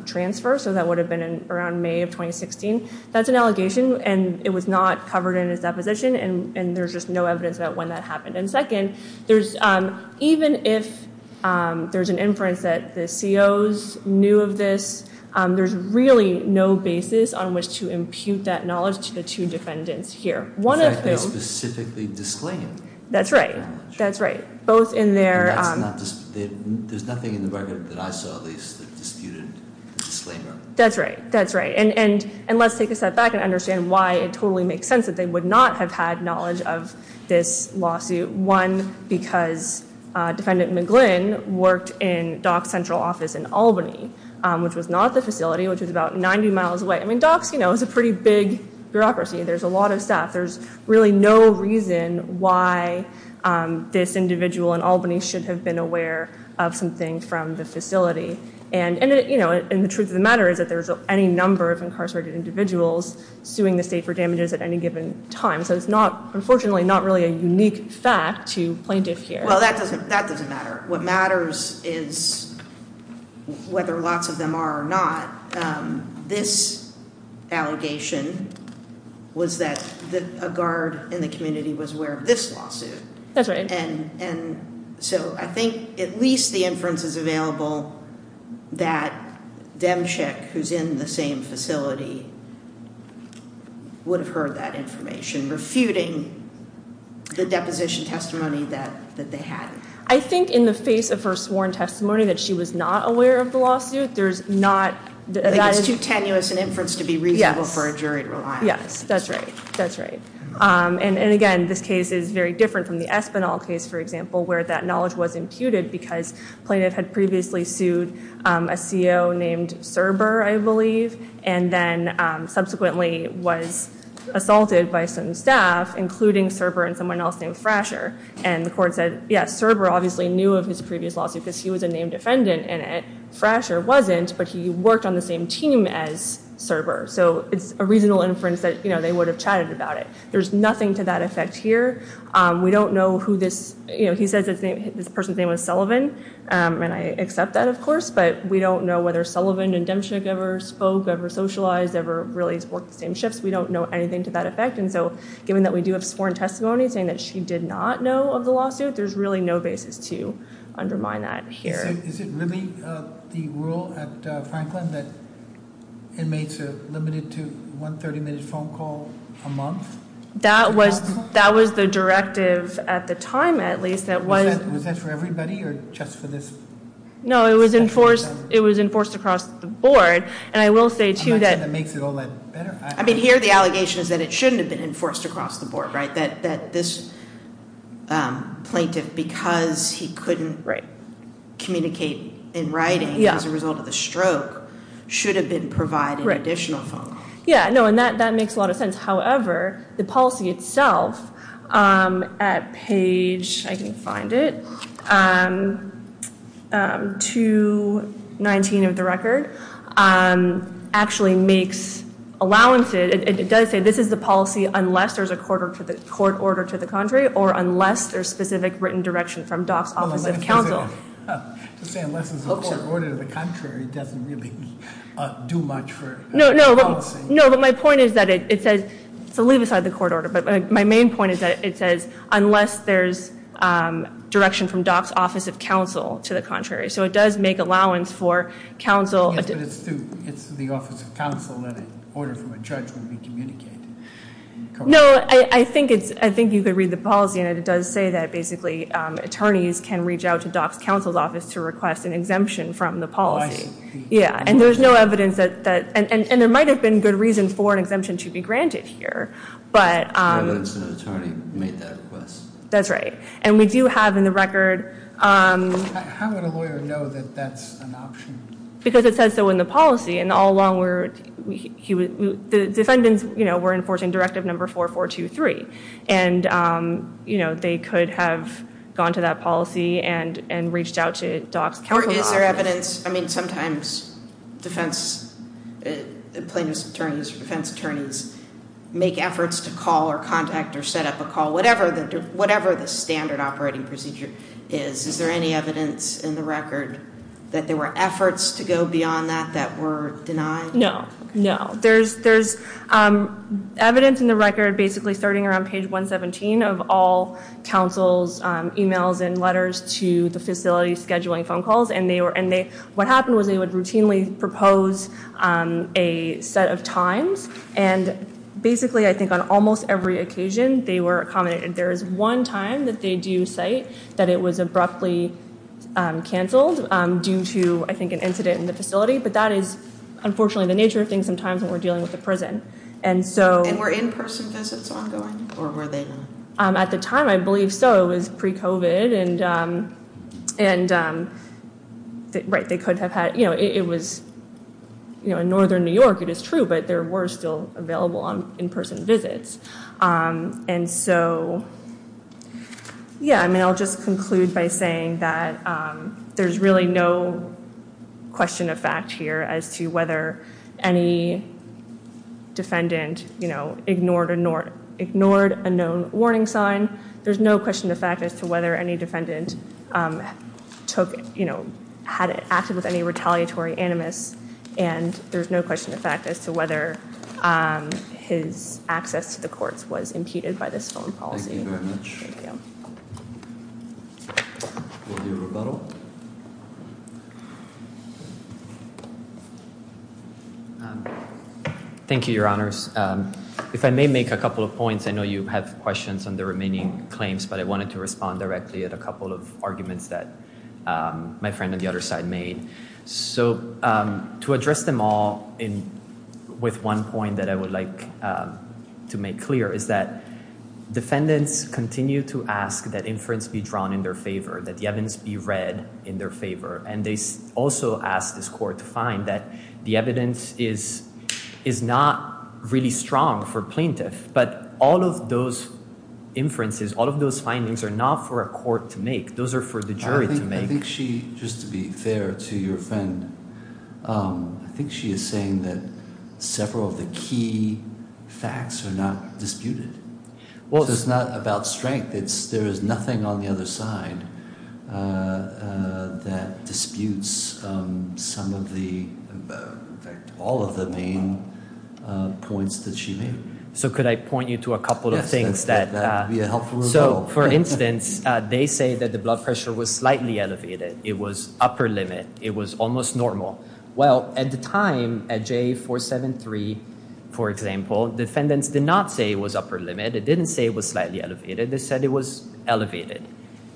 transfer, so that would have been around May of 2016. That's an allegation and it was not covered in his deposition, and there's just no evidence about when that happened. And second, there's even if there's an inference that the COs knew of this, there's really no basis on which to impute that knowledge to the two defendants here. One of whom... Specifically disclaimed. That's right. That's right. Both in their... There's nothing in the record that I saw at least that disputed the disclaimer. That's right. That's right. And let's take a step back and understand why it totally makes sense that they would not have had knowledge of this lawsuit. One, because Defendant McGlynn worked in Doc's central office in Albany, which was not the facility, which was about 90 miles away. I mean, Doc's, you know, is a pretty big bureaucracy. There's a lot of staff. There's really no reason why this individual in Albany should have been aware of something from the facility. And, you know, the truth of the matter is that there's any number of incarcerated individuals suing the state for damages at any given time. So it's not, unfortunately, not really a unique fact to plaintiff here. Well, that doesn't matter. What matters is whether lots of them are or not. This allegation was that a guard in the community was aware of this lawsuit. And so I think at least the inference is available that Demchik, who's in the same facility, would have heard that information, refuting the deposition testimony that they had. I think in the face of her sworn testimony that she was not aware of the lawsuit, there's not... It's too tenuous an inference to be reasonable for a jury to rely on. Yes, that's right. And, again, this case is very different from the Espinal case, for example, where that knowledge was imputed because plaintiff had previously sued a CO named Serber, I believe, and then subsequently was assaulted by some staff, including Serber and someone else named Frasher. And the court said, yes, Serber obviously knew of his previous lawsuit because he was a named defendant and Frasher wasn't, but he worked on the same team as Serber. So it's a reasonable inference that they would have chatted about it. There's nothing to that effect here. We don't know who this... He says this person's name was Sullivan, and I accept that, of course, but we don't know whether Sullivan and Demchik ever spoke, ever socialized, ever really worked the same shifts. We don't know anything to that effect, and so given that we do have sworn testimony saying that she did not know of the lawsuit, there's really no basis to undermine that here. So is it really the rule at Franklin that inmates are limited to one 30-minute phone call a month? That was the directive at the time, at least, that was... Was that for everybody or just for this... No, it was enforced across the board, and I will say, too, that... I'm not sure that makes it all that better. I mean, here the allegation is that it shouldn't have been enforced across the board, right? That this plaintiff, because he couldn't communicate in writing as a result of the stroke, should have been provided an additional phone call. Yeah, no, and that makes a lot of sense. However, the policy itself at page... I can't find it... 219 of the record actually makes... It does say this is the policy unless there's a court order to the contrary or unless there's specific written direction from DOC's Office of Counsel. To say unless there's a do much for... No, but my point is that it says... So leave aside the court order, but my main point is that it says unless there's direction from DOC's Office of Counsel to the contrary. So it does make allowance for counsel... Yes, but it's the Office of Counsel that an order from a judge would be communicated. No, I think it's... I think you could read the policy, and it does say that basically attorneys can reach out to DOC's Counsel's Office to request an exemption. And there's no evidence that... And there might have been good reasons for an exemption to be granted here, but... Evidence that an attorney made that request. That's right. And we do have in the record... How would a lawyer know that that's an option? Because it says so in the policy, and all along we're... The defendants, you know, were enforcing Directive No. 4423, and, you know, they could have gone to that policy and reached out to DOC's Counsel's Office. Or is there evidence... I mean, sometimes defense... Plaintiffs' attorneys or defense attorneys make efforts to call or contact or set up a call, whatever the standard operating procedure is. Is there any evidence in the record that there were efforts to go beyond that that were denied? No. No. There's evidence in the record basically starting around page 117 of all counsel's emails and letters to the facility scheduling phone calls, and they... What happened was they would routinely propose a set of times, and basically I think on almost every occasion they were accommodated. There is one time that they do cite that it was abruptly canceled due to I think an incident in the facility, but that is unfortunately the nature of things sometimes when we're dealing with a prison. And so... And were in-person visits ongoing, or were they not? At the time, I believe so. It was pre-COVID. And... Right. They could have had... It was... In northern New York it is true, but there were still available on in-person visits. And so... Yeah. I mean, I'll just conclude by saying that there's really no question of fact here as to whether any defendant ignored a known warning sign. There's no question of fact as to whether any defendant took... Had acted with any retaliatory animus. And there's no question of fact as to whether his access to the courts was impeded by this phone policy. Thank you very much. Thank you. We'll do a rebuttal. Thank you, Your Honors. If I may make a couple of points. I know you have questions on the remaining claims, but I wanted to respond directly at a couple of arguments that my friend on the other side made. So... To address them all with one point that I would like to make clear is that defendants continue to ask that inference be drawn in their favor, that the evidence be read in their favor. And they also ask this Court to find that the evidence is not really strong for plaintiff. But all of those inferences, all of those findings are not for a court to make. Those are for the jury to make. I think she, just to be fair to your friend, I think she is saying that several of the key facts are not disputed. Well, it's not about strength. There is nothing on the other side that disputes some of the... points that she made. So could I point you to a couple of things that... So, for instance, they say that the blood pressure was slightly elevated. It was upper limit. It was almost normal. Well, at the time, at JA 473, for example, defendants did not say it was upper limit. They didn't say it was slightly elevated. They said it was elevated.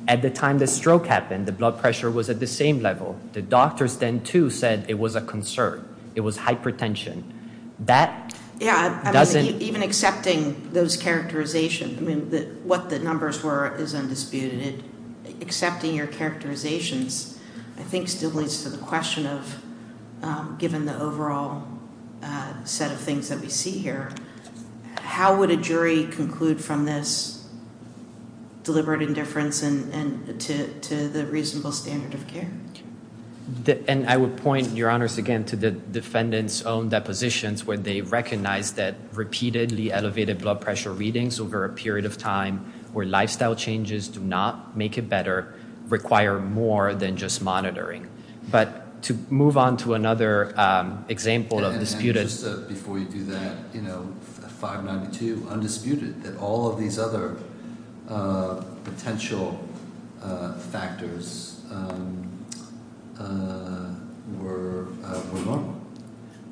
At the time the stroke happened, the blood pressure was at the same level. The doctors then too said it was a concern. It was hypertension. That doesn't... Even accepting those characterizations, I mean, what the numbers were is undisputed. Accepting your characterizations I think still leads to the question of given the overall set of things that we see conclude from this deliberate indifference to the reasonable standard of care? I would point your honors again to the defendant's own depositions where they recognize that repeatedly elevated blood pressure readings over a period of time where lifestyle changes do not make it better require more than just monitoring. To move on to another example of disputed... Before you do that, 592, undisputed that all of these other potential factors were normal.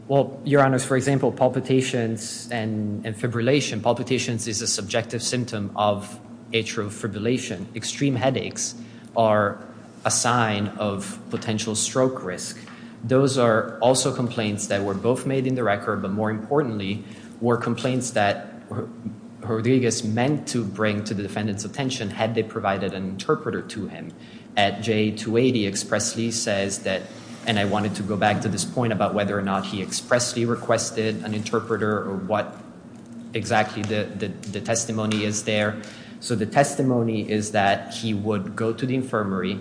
Well, your honors, for example palpitations and fibrillation. Palpitations is a subjective symptom of atrial fibrillation. Extreme headaches are a sign of potential stroke risk. Those are also complaints that were both made in the record, but more importantly were complaints that Rodriguez meant to bring to the defendant's attention had they provided an interpreter to him. At J280 expressly says that and I wanted to go back to this point about whether or not he expressly requested an interpreter or what exactly the testimony is there. So the testimony is that he would go to the infirmary.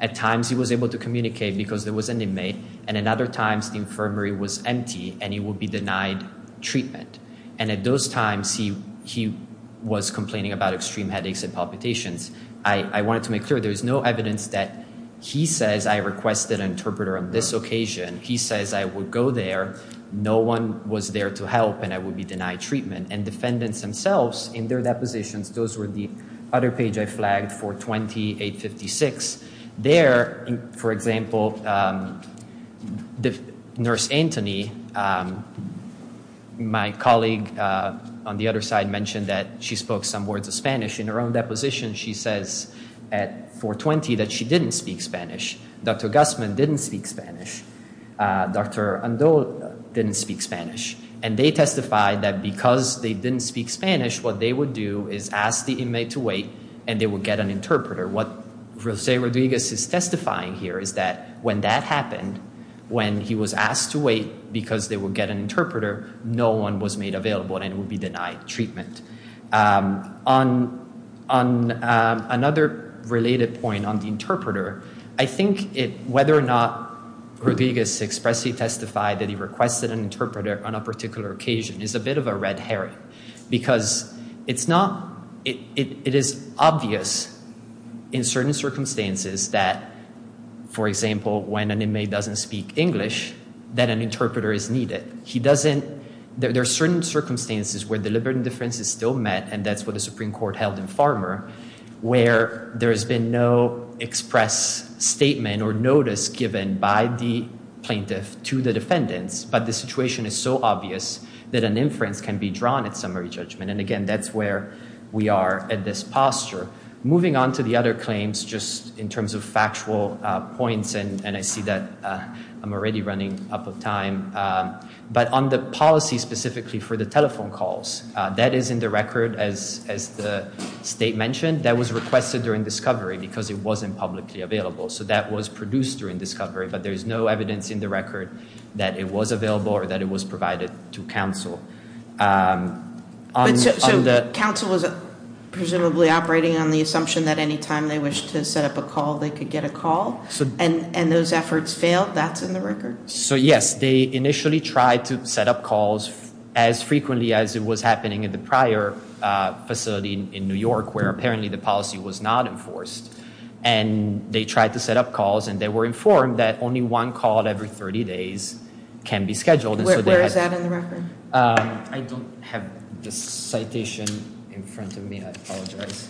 At times he was able to communicate because there was an inmate and at other times the infirmary was empty and he would be denied treatment. And at those times he was complaining about extreme headaches and palpitations. I wanted to make clear there is no evidence that he says I requested an interpreter on this occasion. He says I would go there. No one was there to help and I would be denied treatment. And defendants themselves in their depositions, those were the other page I flagged for 2856, there for example nurse Antony, my colleague on the other side mentioned that she spoke some words of Spanish. In her own deposition she says at 420 that she didn't speak Spanish. Dr. Guzman didn't speak Spanish. Dr. Ando didn't speak Spanish. And they testified that because they didn't speak Spanish, what they would do is ask the inmate to wait and they would get an interpreter. What Jose Rodriguez is testifying here is that when that happened, when he was asked to wait because they would get an interpreter, no one was made available and would be denied treatment. On another related point on the interpreter, I think whether or not Rodriguez expressly testified that he requested an interpreter on a particular occasion is a bit of a red herring because it's not it is obvious in certain circumstances that for example when an inmate doesn't speak English that an interpreter is needed. There are certain circumstances where deliberate indifference is still met and that's what the Supreme Court held in Farmer where there has been no express statement or notice given by the plaintiff to the defendants but the situation is so obvious that an inference can be drawn at summary judgment and again that's where we are at this posture. Moving on to the other claims just in terms of and I see that I'm already running up of time but on the policy specifically for the telephone calls, that is in the record as the state mentioned, that was requested during discovery because it wasn't publicly available so that was produced during discovery but there is no evidence in the record that it was available or that it was provided to council. So council was presumably operating on the assumption that any time they wished to set up a call they could get a call and those efforts failed, that's in the record? So yes, they initially tried to set up calls as frequently as it was happening in the prior facility in New York where apparently the policy was not enforced and they tried to set up calls and they were informed that only one call every 30 days can be scheduled. Where is that in the record? I don't have the citation in front of me I apologize.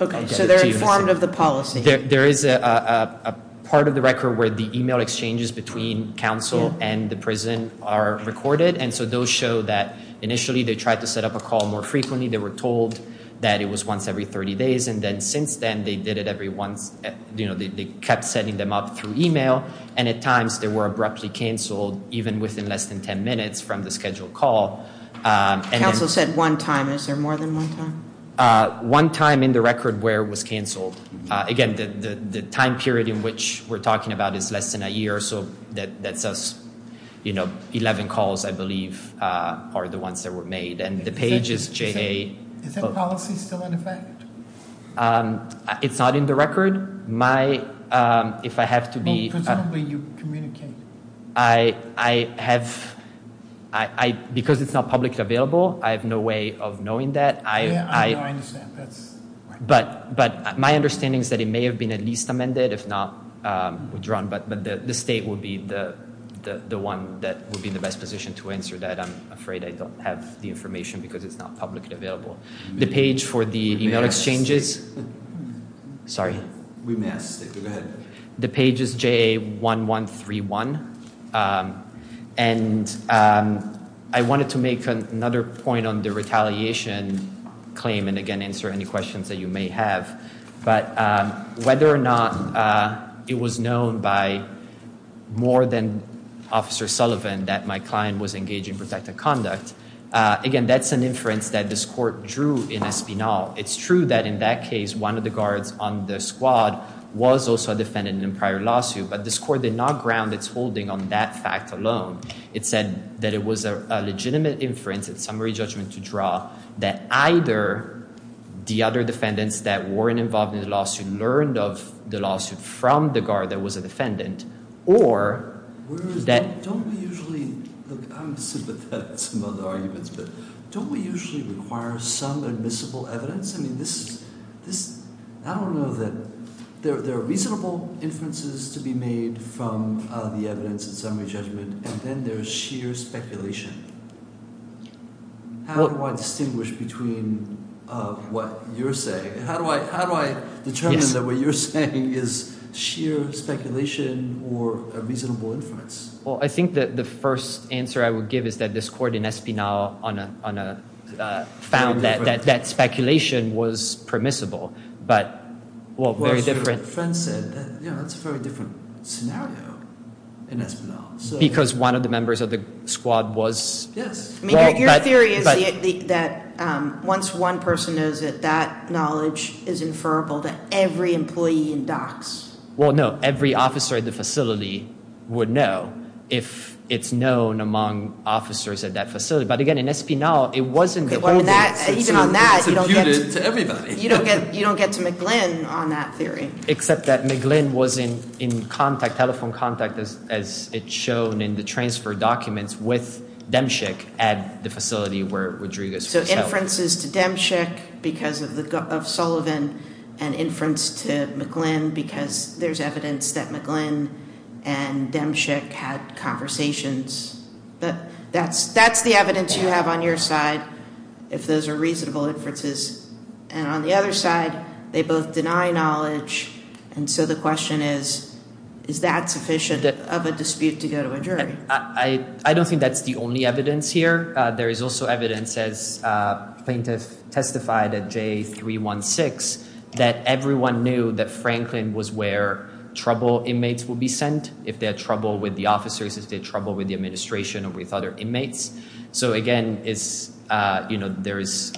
Okay, so they're informed of the policy. There is a part of the record where the email exchanges between council and the prison are recorded and so those show that initially they tried to set up a call more frequently, they were told that it was once every 30 days and then since then they did it every once, they kept setting them up through email and at times they were abruptly cancelled even within less than 10 minutes from the scheduled call. Council said one time? One time in the record where it was cancelled. Again, the time period in which we're talking about is less than a year so that says 11 calls I believe are the ones that were made and the page is JA. Is that policy still in effect? It's not in the record. If I have to be... Presumably you communicate. I have... Because it's not publicly available I have no way of knowing that. I understand. But my understanding is that it may have been at least amended if not withdrawn but the state will be the one that would be in the best position to answer that. I'm afraid I don't have the information because it's not publicly available. The page for the email exchanges... Sorry. We missed. Go ahead. The page is JA 1131 and I wanted to make another point on the retaliation claim and again answer any questions that you may have but whether or not it was known by more than Officer Sullivan that my client was engaged in protected conduct again that's an inference that this court drew in Espinal. It's true that in that case one of the guards on the squad was also a defendant in a prior lawsuit but this court did not ground its holding on that fact alone. It said that it was a legitimate inference in summary judgment to draw that either the other defendants that weren't involved in the lawsuit learned of the lawsuit from the guard that was a defendant or that... I'm sympathetic to some of the arguments but don't we usually require some admissible evidence? I don't know that there are reasonable inferences to be made from the evidence in summary judgment and then there's sheer speculation. How do I distinguish between what you're saying? How do I determine that what you're saying is sheer speculation or a reasonable inference? Well I think that the first answer I would give is that this court in Espinal found that that speculation was permissible but well very different... scenario in Espinal. Because one of the members of the squad was... Yes. Your theory is that once one person knows it, that knowledge is inferable to every employee in DOCS. Well no every officer at the facility would know if it's known among officers at that facility but again in Espinal it wasn't the holding. Even on that... It's imputed to everybody. You don't get to McGlynn on that theory. Except that McGlynn was in contact telephone contact as it's shown in the transfer documents with Demchik at the facility where Rodriguez was held. So inferences to Demchik because of Sullivan and inference to McGlynn because there's evidence that McGlynn and Demchik had conversations but that's the evidence you have on your side if those are reasonable inferences and on the other side they both deny knowledge and so the question is is that sufficient of a dispute to go to a jury? I don't think that's the only evidence here. There is also evidence as plaintiff testified at J 316 that everyone knew that Franklin was where trouble inmates would be sent if they had trouble with the officers, if they had trouble with the administration or with other inmates so again it's you know there is...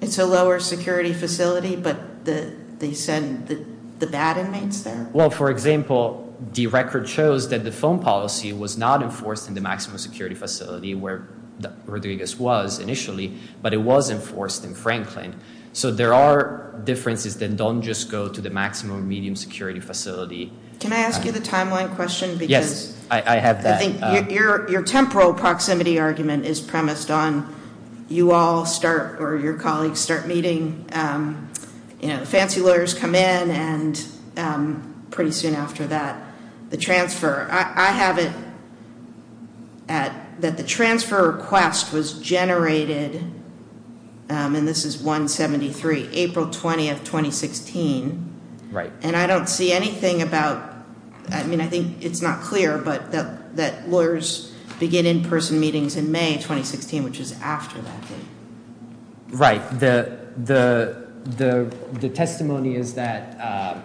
It's a lower security facility but they send the bad inmates there? Well for example the record shows that the phone policy was not enforced in the maximum security facility where Rodriguez was initially but it was enforced in Franklin. So there are differences that don't just go to the maximum or medium security facility Can I ask you the timeline question? Yes, I have that. I think your temporal proximity argument is premised on you all start or your colleagues start meeting you know the fancy lawyers come in and pretty soon after that the transfer. I have it that the transfer request was generated and this is 173 April 20 of 2016 and I don't see anything about I mean I think it's not clear but that lawyers begin in person meetings in May 2016 which is after that date Right. The testimony is that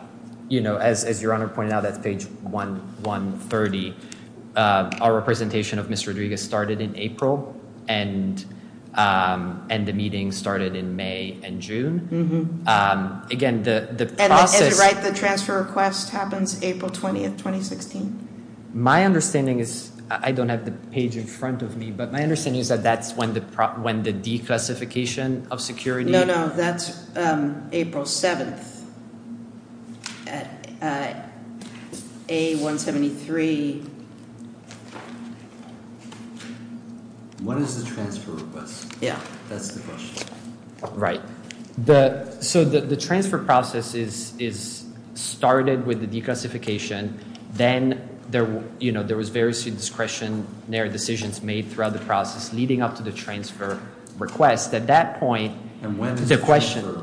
you know as your honor pointed out that's page 130 our representation of Ms. Rodriguez started in April and the meeting started in May and June again the process... The transfer request happens April 20 2016? My understanding is... I don't have the page in front of me but my understanding is that that's when the declassification of security... No, no, that's April 7th at A173 What is the transfer request? That's the question. Right. So the transfer process is started with the declassification then there you know there was various discretionary decisions made throughout the process leading up to the transfer request at that point... And when is the transfer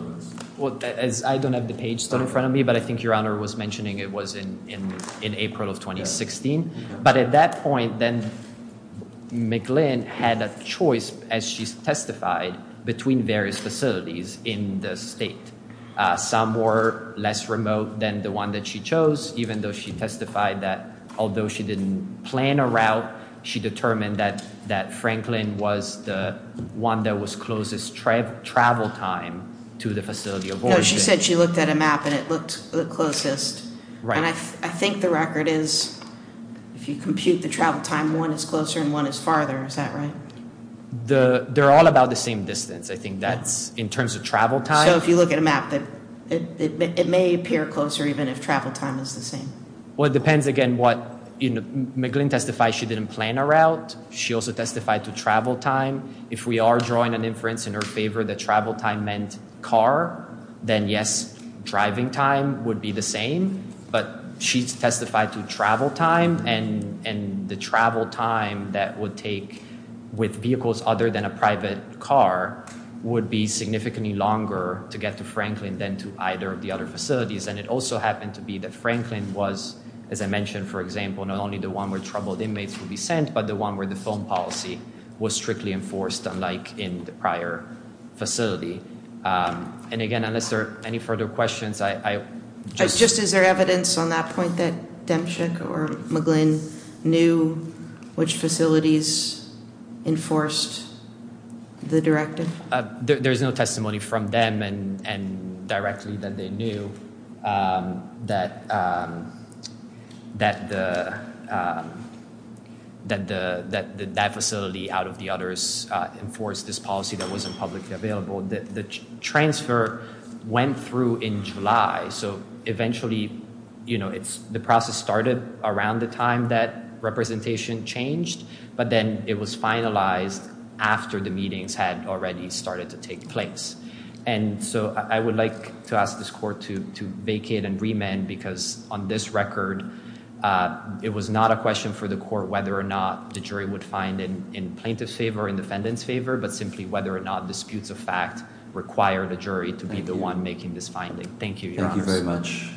request? I don't have the page still in front of me but I think your honor was mentioning it was in April of 2016 but at that point then McGlynn had a choice as she testified between various facilities in the state some were less remote than the one that she chose even though she testified that although she didn't plan a route she determined that Franklin was the one that was closest travel time to the facility of origin. No, she said she looked at a map and it looked the closest and I think the record is if you compute the travel time one is closer and one is farther is that right? They're all about the same distance I think that's in terms of travel time. So if you look at a map it may appear closer even if travel time is the same. Well it depends again what McGlynn testified she didn't plan a route. She also testified to travel time. If we are drawing an inference in her favor that travel time meant car then yes driving time would be the same but she testified to travel time and with vehicles other than a private car would be significantly longer to get to Franklin than to either of the other facilities and it also happened to be that Franklin was as I mentioned for example not only the one where troubled inmates would be sent but the one where the phone policy was strictly enforced unlike in the prior facility. And again unless there are any further questions Just is there evidence on that point that Demchik or McGlynn knew which facilities enforced the directive? There's no directly that they knew that that that that facility out of the others enforced this policy that wasn't publicly available. The transfer went through in July so eventually you know it's the process started around the time that representation changed but then it was finalized after the meetings had already started to take place and so I would like to ask this court to vacate and remand because on this record it was not a question for the court whether or not the jury would find in plaintiff's favor or in defendant's favor but simply whether or not disputes of fact require the jury to be the one making this finding. Thank you. Thank you very much.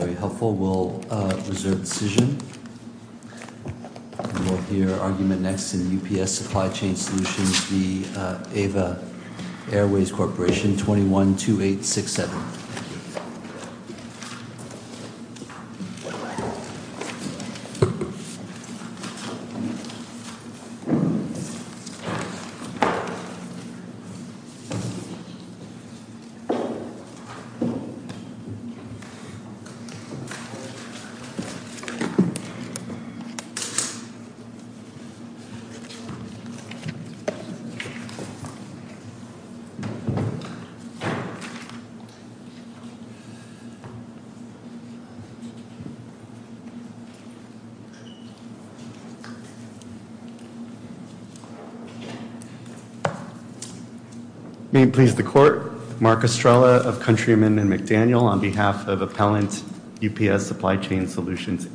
Very helpful. We'll reserve decision. We'll hear argument next in UPS Supply Chain Solutions. The next item on the agenda Airways Corporation 212867. Please be seated. Please the court Mark Estrella of countrymen and McDaniel on behalf of appellant UPS Supply Chain Solutions.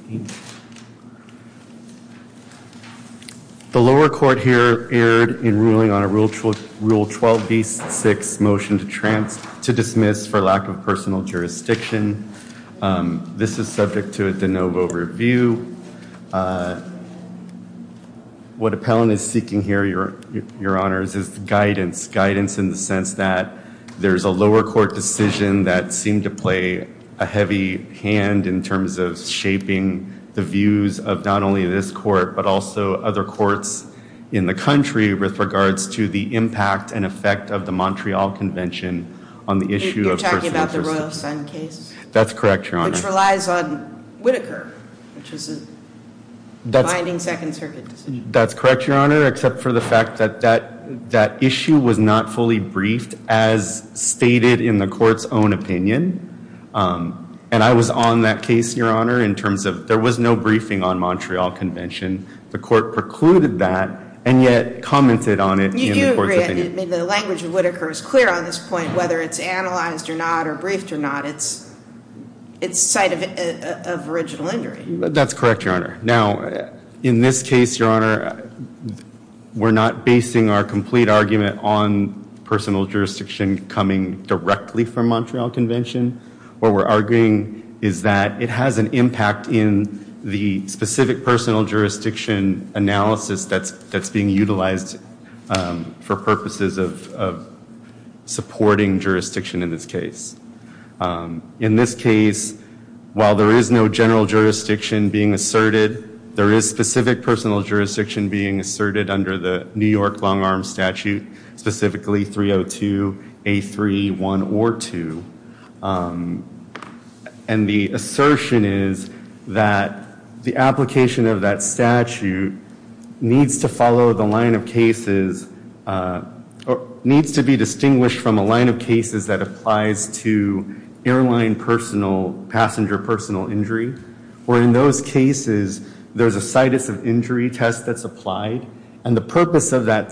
The lower court here erred in ruling on a rule 12b6 motion to dismiss for lack of personal jurisdiction. This is subject to a de novo review. What appellant is seeking here your honors is guidance. Guidance in the sense that there's a lower court decision that seemed to play a heavy hand in terms of shaping the views of not only this court but also other courts in the country with regards to the impact and effect of the Montreal Convention on the issue of personal jurisdiction. You're talking about the Royal Sun case? That's correct your honor. Which relies on Whitaker which is a binding second circuit decision. That's correct your honor except for the fact that that issue was not fully briefed as stated in the court's own opinion and I was on that case your honor in terms of there was no briefing on Montreal Convention the court precluded that and yet commented on it. The language of Whitaker is clear on this point whether it's analyzed or not or briefed or not it's it's site of original injury. That's correct your honor. Now in this case your honor we're not basing our complete argument on personal jurisdiction coming directly from Montreal Convention. What we're arguing is that it has an impact in the specific personal jurisdiction analysis that's being utilized for purposes of supporting jurisdiction in this case. In this case jurisdiction being asserted there is specific personal jurisdiction being asserted under the New York Long Arm Statute specifically 302 A3 1 or 2 and the assertion is that the application of that statute needs to follow the line of cases or needs to be distinguished from a line of cases that applies to airline personal passenger personal injury or in those cases there's a situs of injury test that's the purpose of that test to to to to to to to to to to to to to to to to to to to